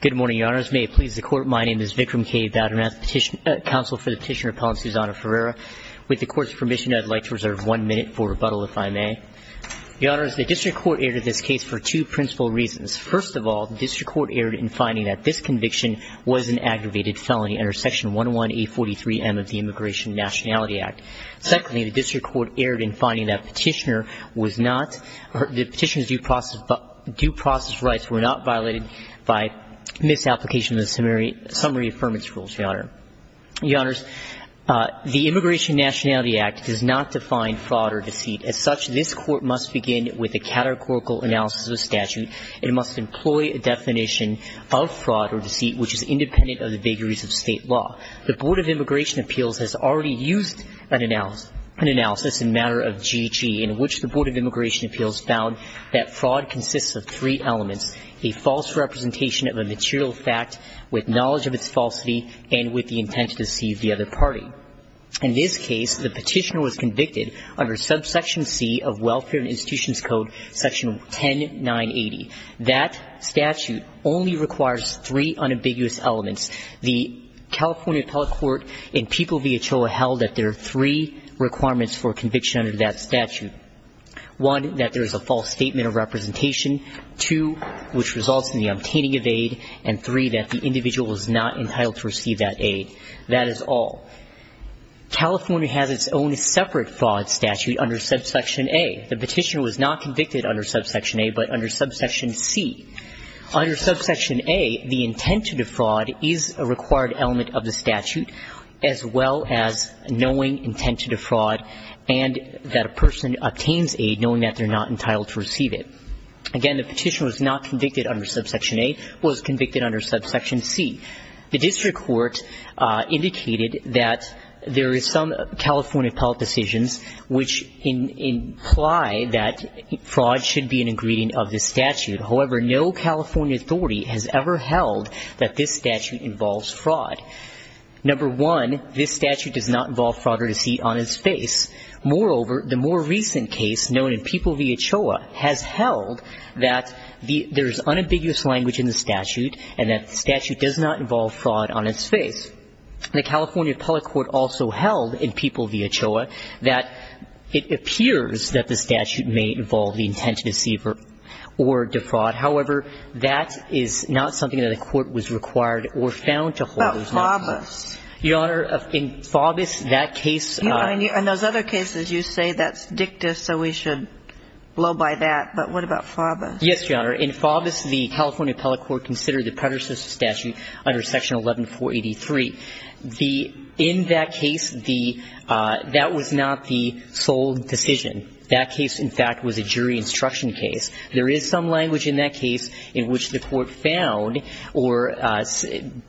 Good morning, Your Honors. May it please the Court, my name is Vikram K. Badunath, Petitioner, Counsel for the Petitioner, Appellant Susanna Ferreira. With the Court's permission, I'd like to reserve one minute for rebuttal, if I may. Your Honors, the District Court aired this case for two principal reasons. First of all, the District Court aired in finding that this conviction was an aggravated felony under section 11A43M of the Immigration and Nationality Act. Secondly, the District Court aired in finding that petitioner was not, the petitioner's due process rights were not violated by misapplication of the summary affirmance rules, Your Honor. Your Honors, the Immigration and Nationality Act does not define fraud or deceit. As such, this Court must begin with a categorical analysis of statute. It must employ a definition of fraud or deceit, which is independent of the vagaries of state law. The Board of Immigration Appeals has already used an analysis in matter of GHE, in which the Board of Immigration Appeals found that fraud consists of three elements, a false representation of a material fact with knowledge of its falsity, and with the intent to deceive the other party. In this case, the petitioner was convicted under subsection C of Welfare and Institutions Code, section 10980. That statute only requires three unambiguous elements. The California Appellate Court and People V. Ochoa held that there are three requirements for conviction under that statute. One, that there is a false statement of representation. Two, which results in the obtaining of aid. And three, that the individual is not entitled to receive that aid. That is all. California has its own separate fraud statute under subsection A. The petitioner was not convicted under subsection A, but under subsection C. Under subsection A, the intent to defraud is a required element of the statute, as well as knowing intent to defraud and that a person obtains aid knowing that they're not entitled to receive it. Again, the petitioner was not convicted under subsection A, was convicted under subsection C. The district court indicated that there is some California appellate decisions which imply that fraud should be an ingredient of this statute. However, no California authority has ever held that this statute involves fraud. Number one, this statute does not involve fraud or deceit on its face. Moreover, the more recent case known in People V. Ochoa has held that there's unambiguous language in the statute and that the statute does not involve fraud on its face. The California appellate court also held in People V. Ochoa that it appears that the statute may involve the intent to deceive or defraud. However, that is not something that the court was required or found to hold. But FAUBUS. Your Honor, in FAUBUS, that case. In those other cases, you say that's dicta, so we should blow by that. But what about FAUBUS? Yes, Your Honor. In FAUBUS, the California appellate court considered the predecessor statute under section 11483. In that case, that was not the sole decision. That case, in fact, was a jury instruction case. There is some language in that case in which the court found or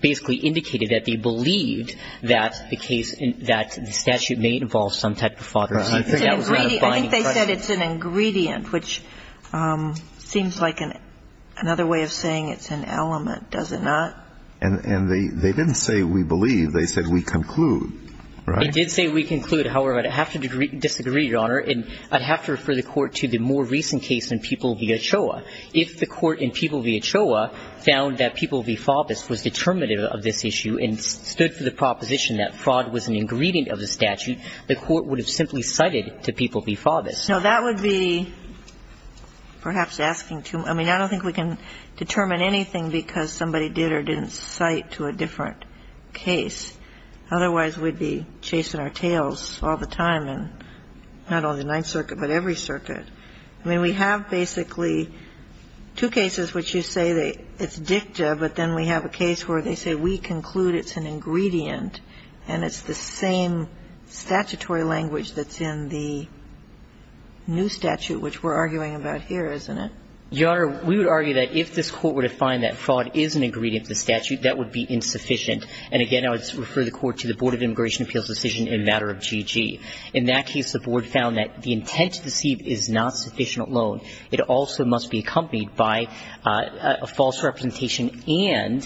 basically indicated that they believed that the statute may involve some type of fraud or deceit. I think they said it's an ingredient, which seems like another way of saying it's an element, does it not? And they didn't say we believe. They said we conclude, right? They did say we conclude. However, I'd have to disagree, Your Honor. And I'd have to refer the court to the more recent case in People V. Ochoa. If the court in People V. Ochoa found that People V. FAUBUS was determinative of this issue and stood for the proposition that fraud was an ingredient of the statute, the court would have simply cited to People V. FAUBUS. No, that would be perhaps asking too much. I mean, I don't think we can determine anything because somebody did or didn't cite to a different case. Otherwise, we'd be chasing our tails all the time in not only the Ninth Circuit, but every circuit. I mean, we have basically two cases which you say it's dicta, but then we have a case where they say we conclude it's an ingredient, and it's the same statutory language that's in the new statute, which we're arguing about here, isn't it? Your Honor, we would argue that if this court were to find that fraud is an ingredient of the statute, that would be insufficient. And again, I would refer the court to the Board of Immigration Appeals decision in a matter of GG. In that case, the board found that the intent to deceive is not sufficient alone. It also must be accompanied by a false representation and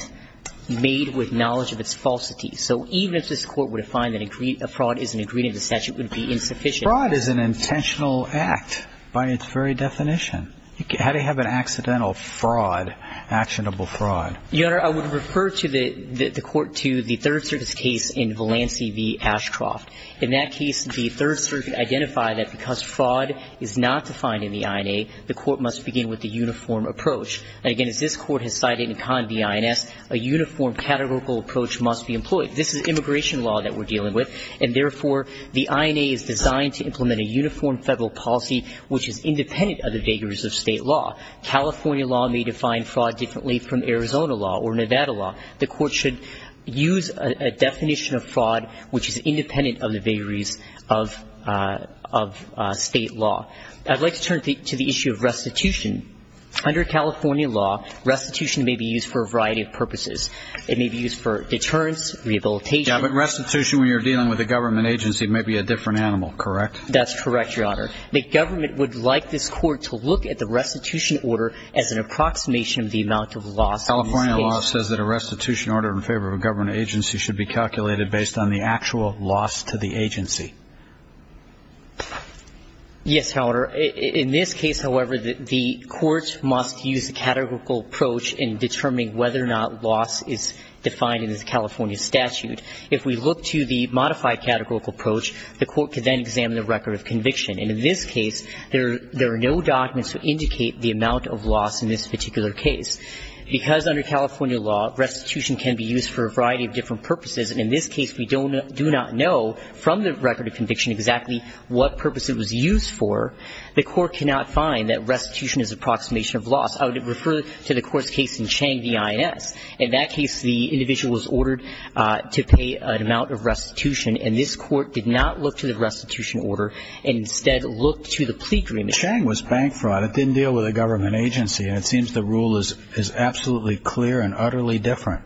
made with knowledge of its falsity. So even if this court were to find that a fraud is an ingredient of the statute, it would be insufficient. Fraud is an intentional act by its very definition. How do you have an accidental fraud, actionable fraud? Your Honor, I would refer the court to the Third Circuit's case in Valancey v. Ashcroft. In that case, the Third Circuit identified that because fraud is not defined in the INA, the court must begin with a uniform approach. And again, as this court has cited in Con V. INS, a uniform categorical approach must be employed. This is immigration law that we're dealing with. And therefore, the INA is designed to implement a uniform federal policy which is independent of the vagaries of state law. California law may define fraud differently from Arizona law or Nevada law. The court should use a definition of fraud which is independent of the vagaries of state law. I'd like to turn to the issue of restitution. Under California law, restitution may be used for a variety of purposes. It may be used for deterrence, rehabilitation. Yeah, but restitution, when you're dealing with a government agency, may be a different animal, correct? That's correct, Your Honor. The government would like this court to look at the restitution order as an approximation of the amount of loss. California law says that a restitution should be calculated based on the actual loss to the agency. Yes, Your Honor. In this case, however, the courts must use a categorical approach in determining whether or not loss is defined in this California statute. If we look to the modified categorical approach, the court can then examine the record of conviction. And in this case, there are no documents to indicate the amount of loss in this particular case. Because under California law, restitution can be used for a variety of different purposes. And in this case, we do not know from the record of conviction exactly what purpose it was used for. The court cannot find that restitution is an approximation of loss. I would refer to the court's case in Chang v. INS. In that case, the individual was ordered to pay an amount of restitution. And this court did not look to the restitution order, and instead looked to the plea agreement. Chang was bank fraud. It didn't deal with a government agency. And it seems the rule is absolutely clear and utterly different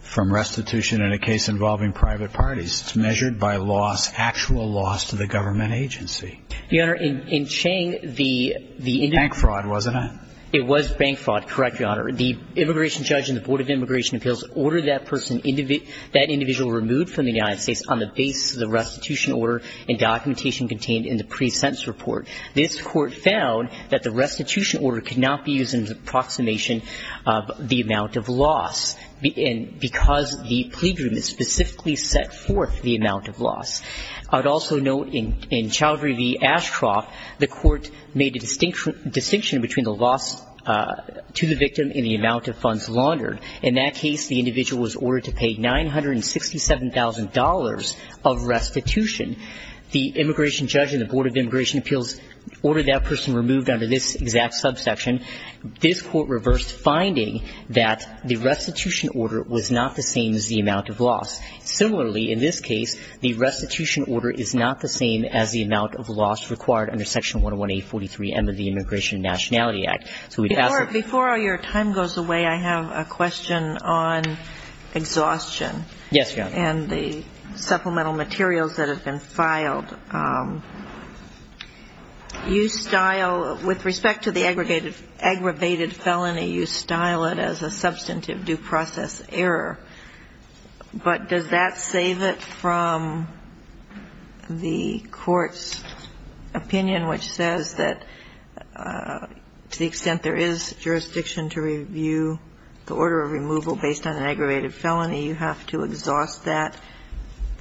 from restitution in a case involving private parties. It's measured by loss, actual loss to the government agency. Your Honor, in Chang, the individual Bank fraud, wasn't it? It was bank fraud, correct, Your Honor. The immigration judge and the Board of Immigration Appeals ordered that person, that individual removed from the United States on the basis of the restitution order and documentation contained in the pre-sentence report. This court found that the restitution order could not be used as an approximation of the amount of loss. Because the plea agreement specifically set forth the amount of loss. I would also note in Chowdhury v. Ashcroft, the court made a distinction between the loss to the victim and the amount of funds laundered. In that case, the individual was ordered to pay $967,000 of restitution. The immigration judge and the Board of Immigration Appeals ordered that person removed under this exact subsection. This court reversed finding that the restitution order was not the same as the amount of loss. Similarly, in this case, the restitution order is not the same as the amount of loss required under Section 101A43M of the Immigration and Nationality Act. So we'd ask that before all your time goes away, I have a question on exhaustion and the supplemental materials that have been filed. You style, with respect to the aggravated felony, you style it as a substantive due process error. But does that save it from the court's opinion, which says that to the extent there is jurisdiction to review the order of removal based on an aggravated felony, it not be expected to be a substantive due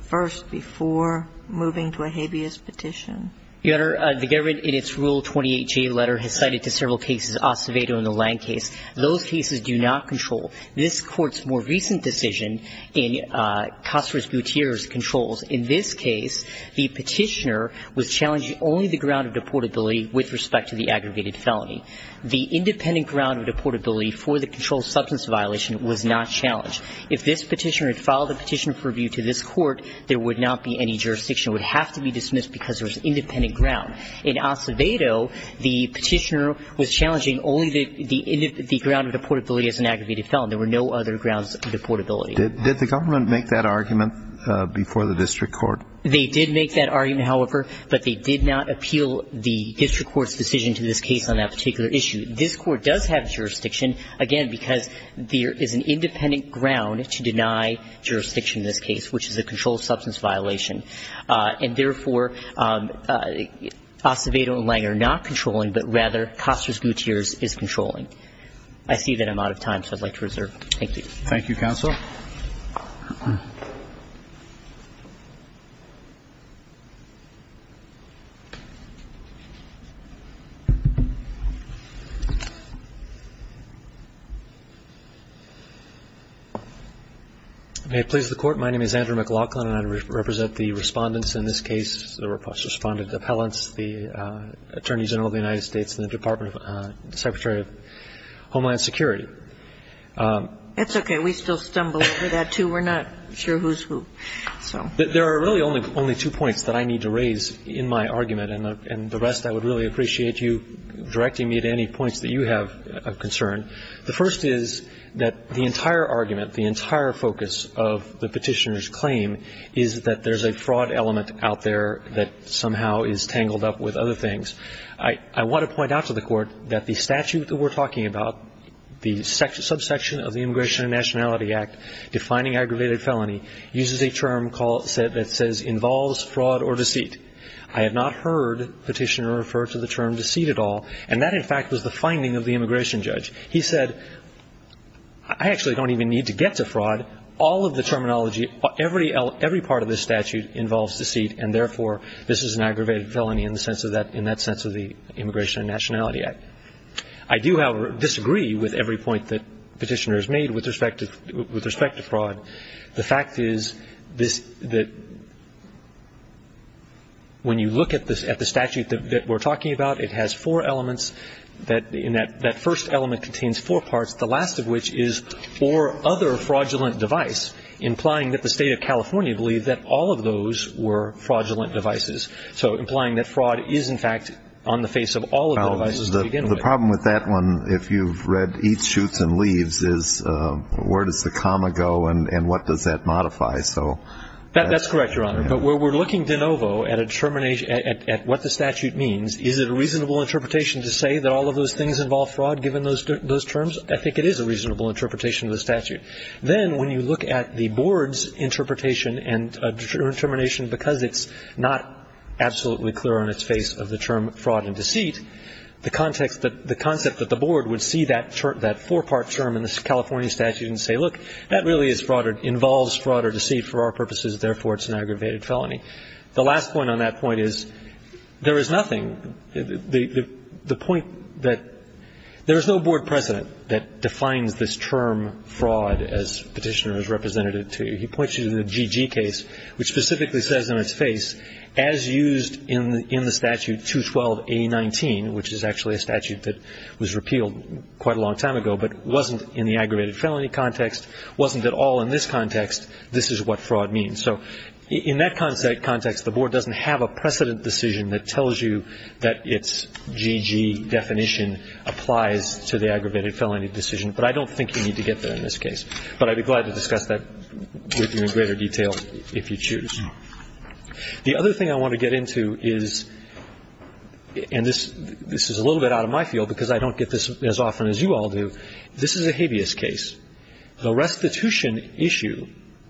process error? Is that a dubious petition? Your Honor, the government in its Rule 28J letter has cited to several cases, Acevedo and the Lange case. Those cases do not control. This court's more recent decision in Caceres-Butir's controls, in this case, the petitioner was challenging only the ground of deportability with respect to the aggravated felony. The independent ground of deportability for the controlled substance violation was not challenged. If this petitioner had filed a petition for review to this court, there would not be any jurisdiction. It would have to be dismissed because there was independent ground. In Acevedo, the petitioner was challenging only the ground of deportability as an aggravated felony. There were no other grounds of deportability. Did the government make that argument before the district court? They did make that argument, however, but they did not appeal the district court's decision to this case on that particular issue. This court does have jurisdiction, again, because there is an independent ground to deny jurisdiction in this case, which is a controlled substance violation. And therefore, Acevedo and Lange are not controlling, but rather, Caceres-Butir's is controlling. I see that I'm out of time, so I'd like to reserve. Thank you. Thank you, counsel. May it please the court, my name is Andrew McLaughlin, and I represent the respondents in this case, the respondents' appellants, the Attorney General of the United States and the Department of the Secretary of Homeland Security. It's OK. We still stumble over that, too. We're not sure who's who, so. There are really only two points that I need to raise in my argument, and the rest, I think the first point is that the Department of Homeland has a number of things that you have of concern. The first is that the entire argument, the entire focus of the Petitioner's claim is that there's a fraud element out there that somehow is tangled up with other things. I want to point out to the court that the statute that we're talking about, the subsection of the Immigration and Nationality Act defining aggravated felony, uses a term that says involves fraud or deceit. I have not heard Petitioner refer to the term deceit at all, and that, in fact, was the finding of the immigration judge. He said, I actually don't even need to get to fraud. All of the terminology, every part of this statute involves deceit, and therefore, this is an aggravated felony in that sense of the Immigration and Nationality Act. I do, however, disagree with every point that Petitioner has made with respect to fraud. The fact is that when you look at the statute that we're talking about, it has four elements. That first element contains four parts, the last of which is or other fraudulent device, implying that the state of California believed that all of those were fraudulent devices, so implying that fraud is, in fact, on the face of all of the devices to begin with. The problem with that one, if you've read each shoots and leaves, is where does the comma go, and what does that modify? That's correct, Your Honor. But we're looking de novo at what the statute means. Is it a reasonable interpretation to say that all of those things involve fraud, given those terms? I think it is a reasonable interpretation of the statute. Then, when you look at the board's interpretation and determination, because it's not absolutely clear on its face of the term fraud and deceit, the concept that the board would see that four-part term in this California statute and say, look, that really involves fraud or deceit for our purposes. Therefore, it's an aggravated felony. The last point on that point is, there is nothing, the point that there is no board president that defines this term fraud as petitioner is representative to. He points you to the GG case, which specifically says on its face, as used in the statute 212A19, which is actually a statute that was repealed quite a long time ago, but wasn't in the aggravated felony context, wasn't at all in this context. This is what fraud means. So in that context, the board doesn't have a precedent decision that tells you that its GG definition applies to the aggravated felony decision. But I don't think you need to get there in this case. But I'd be glad to discuss that with you in greater detail if you choose. The other thing I want to get into is, and this is a little bit out of my field, because I don't get this as often as you all do. This is a habeas case. The restitution issue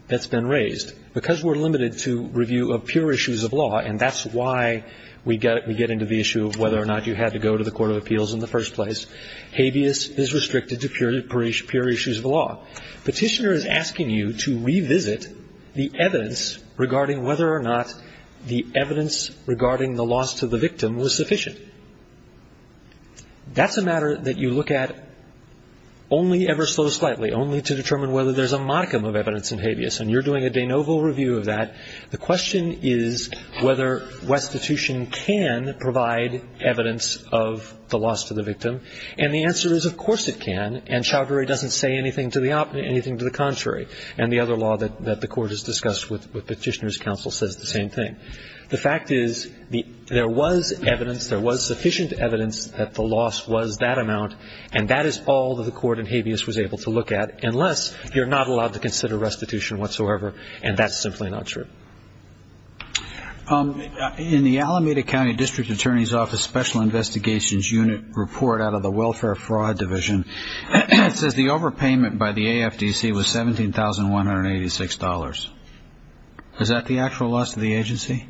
that's been raised, because we're limited to review of pure issues of law, and that's why we get into the issue of whether or not you had to go to the court of appeals in the first place, habeas is restricted to pure issues of law. Petitioner is asking you to revisit the evidence regarding whether or not the evidence regarding the loss to the victim was sufficient. That's a matter that you look at only ever so slightly, only to determine whether there's a modicum of evidence in habeas. And you're doing a de novo review of that. The question is whether restitution can provide evidence of the loss to the victim. And the answer is, of course it can. And Chaudhuri doesn't say anything to the contrary. And the other law that the Court has discussed with Petitioner's counsel says the same thing. The fact is, there was evidence, there was sufficient evidence that the loss was that amount. And that is all that the Court in habeas was able to look at, unless you're not allowed to consider restitution whatsoever. And that's simply not true. In the Alameda County District Attorney's Office Special Investigations Unit report out of the Welfare Fraud Division, it says the overpayment by the AFDC was $17,186. Is that the actual loss to the agency?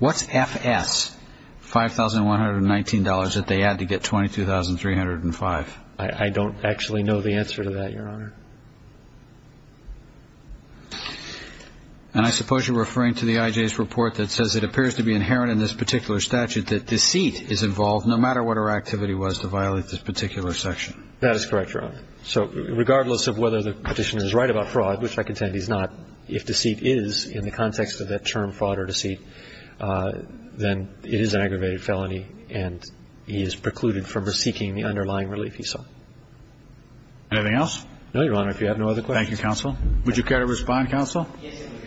What's FS, $5,119 that they add to get $22,305? I don't actually know the answer to that, Your Honor. And I suppose you're referring to the IJ's report that says it appears to be inherent in this particular statute that deceit is involved, no matter what our activity was to violate this particular section. That is correct, Your Honor. So regardless of whether the Petitioner is right about this or not, if deceit is, in the context of that term fraud or deceit, then it is an aggravated felony and he is precluded from seeking the underlying relief he saw. Anything else? No, Your Honor, if you have no other questions. Thank you, Counsel. Would you care to respond, Counsel? Yes, Your Honor.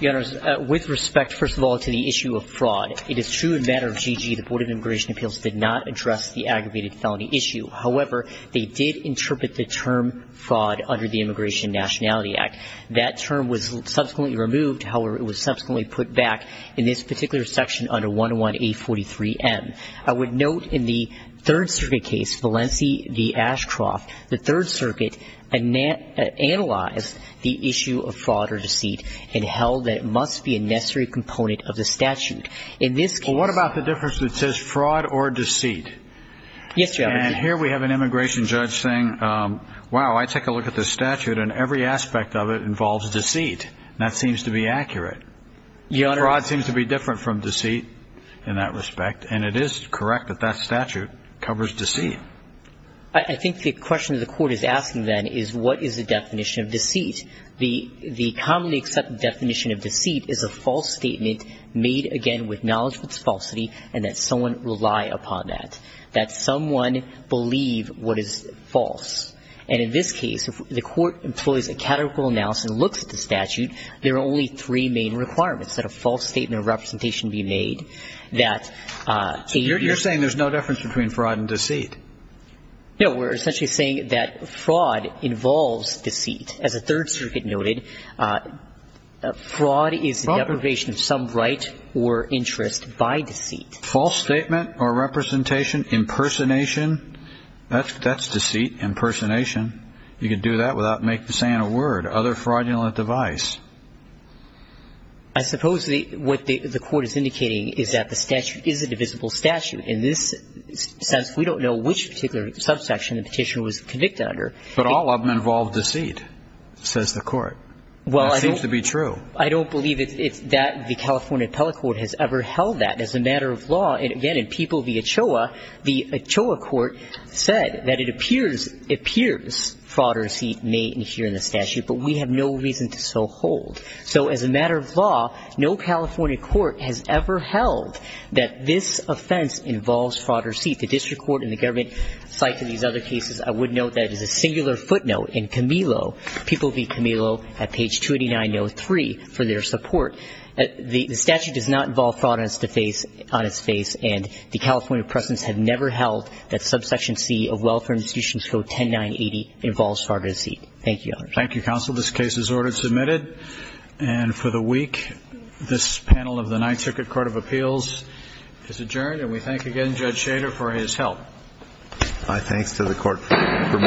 Your Honors, with respect, first of all, to the issue of fraud, it is true in matter of GG the Board of Immigration Appeals did not address the aggravated felony issue. However, they did interpret the term fraud under the Immigration and Nationality Act. That term was subsequently removed. However, it was subsequently put back in this particular section under 101A43M. I would note in the Third Circuit case, Valencia v. Ashcroft, the Third Circuit analyzed the issue of fraud or deceit and held that it must be a necessary component of the statute. Well, what about the difference that says fraud or deceit? Yes, Your Honor. And here we have an immigration judge saying, wow, I take a look at this statute and every aspect of it involves deceit. That seems to be accurate. Your Honor. Fraud seems to be different from deceit in that respect. And it is correct that that statute covers deceit. I think the question the court is asking, then, is what is the definition of deceit? The commonly accepted definition of deceit is a false statement made, again, with knowledge of its falsity and that someone will rely upon that, that someone believe what is false. And in this case, if the court employs a categorical analysis and looks at the statute, there are only three main requirements, that a false statement of representation be made, that a very You're saying there's no difference between fraud and deceit. No. We're essentially saying that fraud involves deceit. As the Third Circuit noted, fraud is the deprivation of some right or interest by deceit. False statement or representation, impersonation, that's deceit, impersonation. You can do that without saying a word. Other fraudulent device. I suppose what the court is indicating is that the statute is a divisible statute. In this sense, we don't know which particular subsection the petitioner was convicted under. But all of them involve deceit, says the court. Well, I don't. It seems to be true. I don't believe that the California Appellate Court has ever held that as a matter of law. And again, in People v. Ochoa, the Ochoa court said that it appears fraud or deceit may adhere in the statute. But we have no reason to so hold. So as a matter of law, no California court has ever held that this offense involves fraud or deceit. The district court and the government cite to these other cases, I would note that it is a singular footnote in Camillo, People v. Camillo at page 289-03 for their support. The statute does not involve fraud on its face. And the California precedents have never held that subsection C of Welfare Institutions Code 10980 involves fraud or deceit. Thank you, Your Honor. Thank you, counsel. This case is ordered submitted. And for the week, this panel of the Ninth Circuit Court of Appeals is adjourned. And we thank again Judge Shader for his help. My thanks to the court for moving.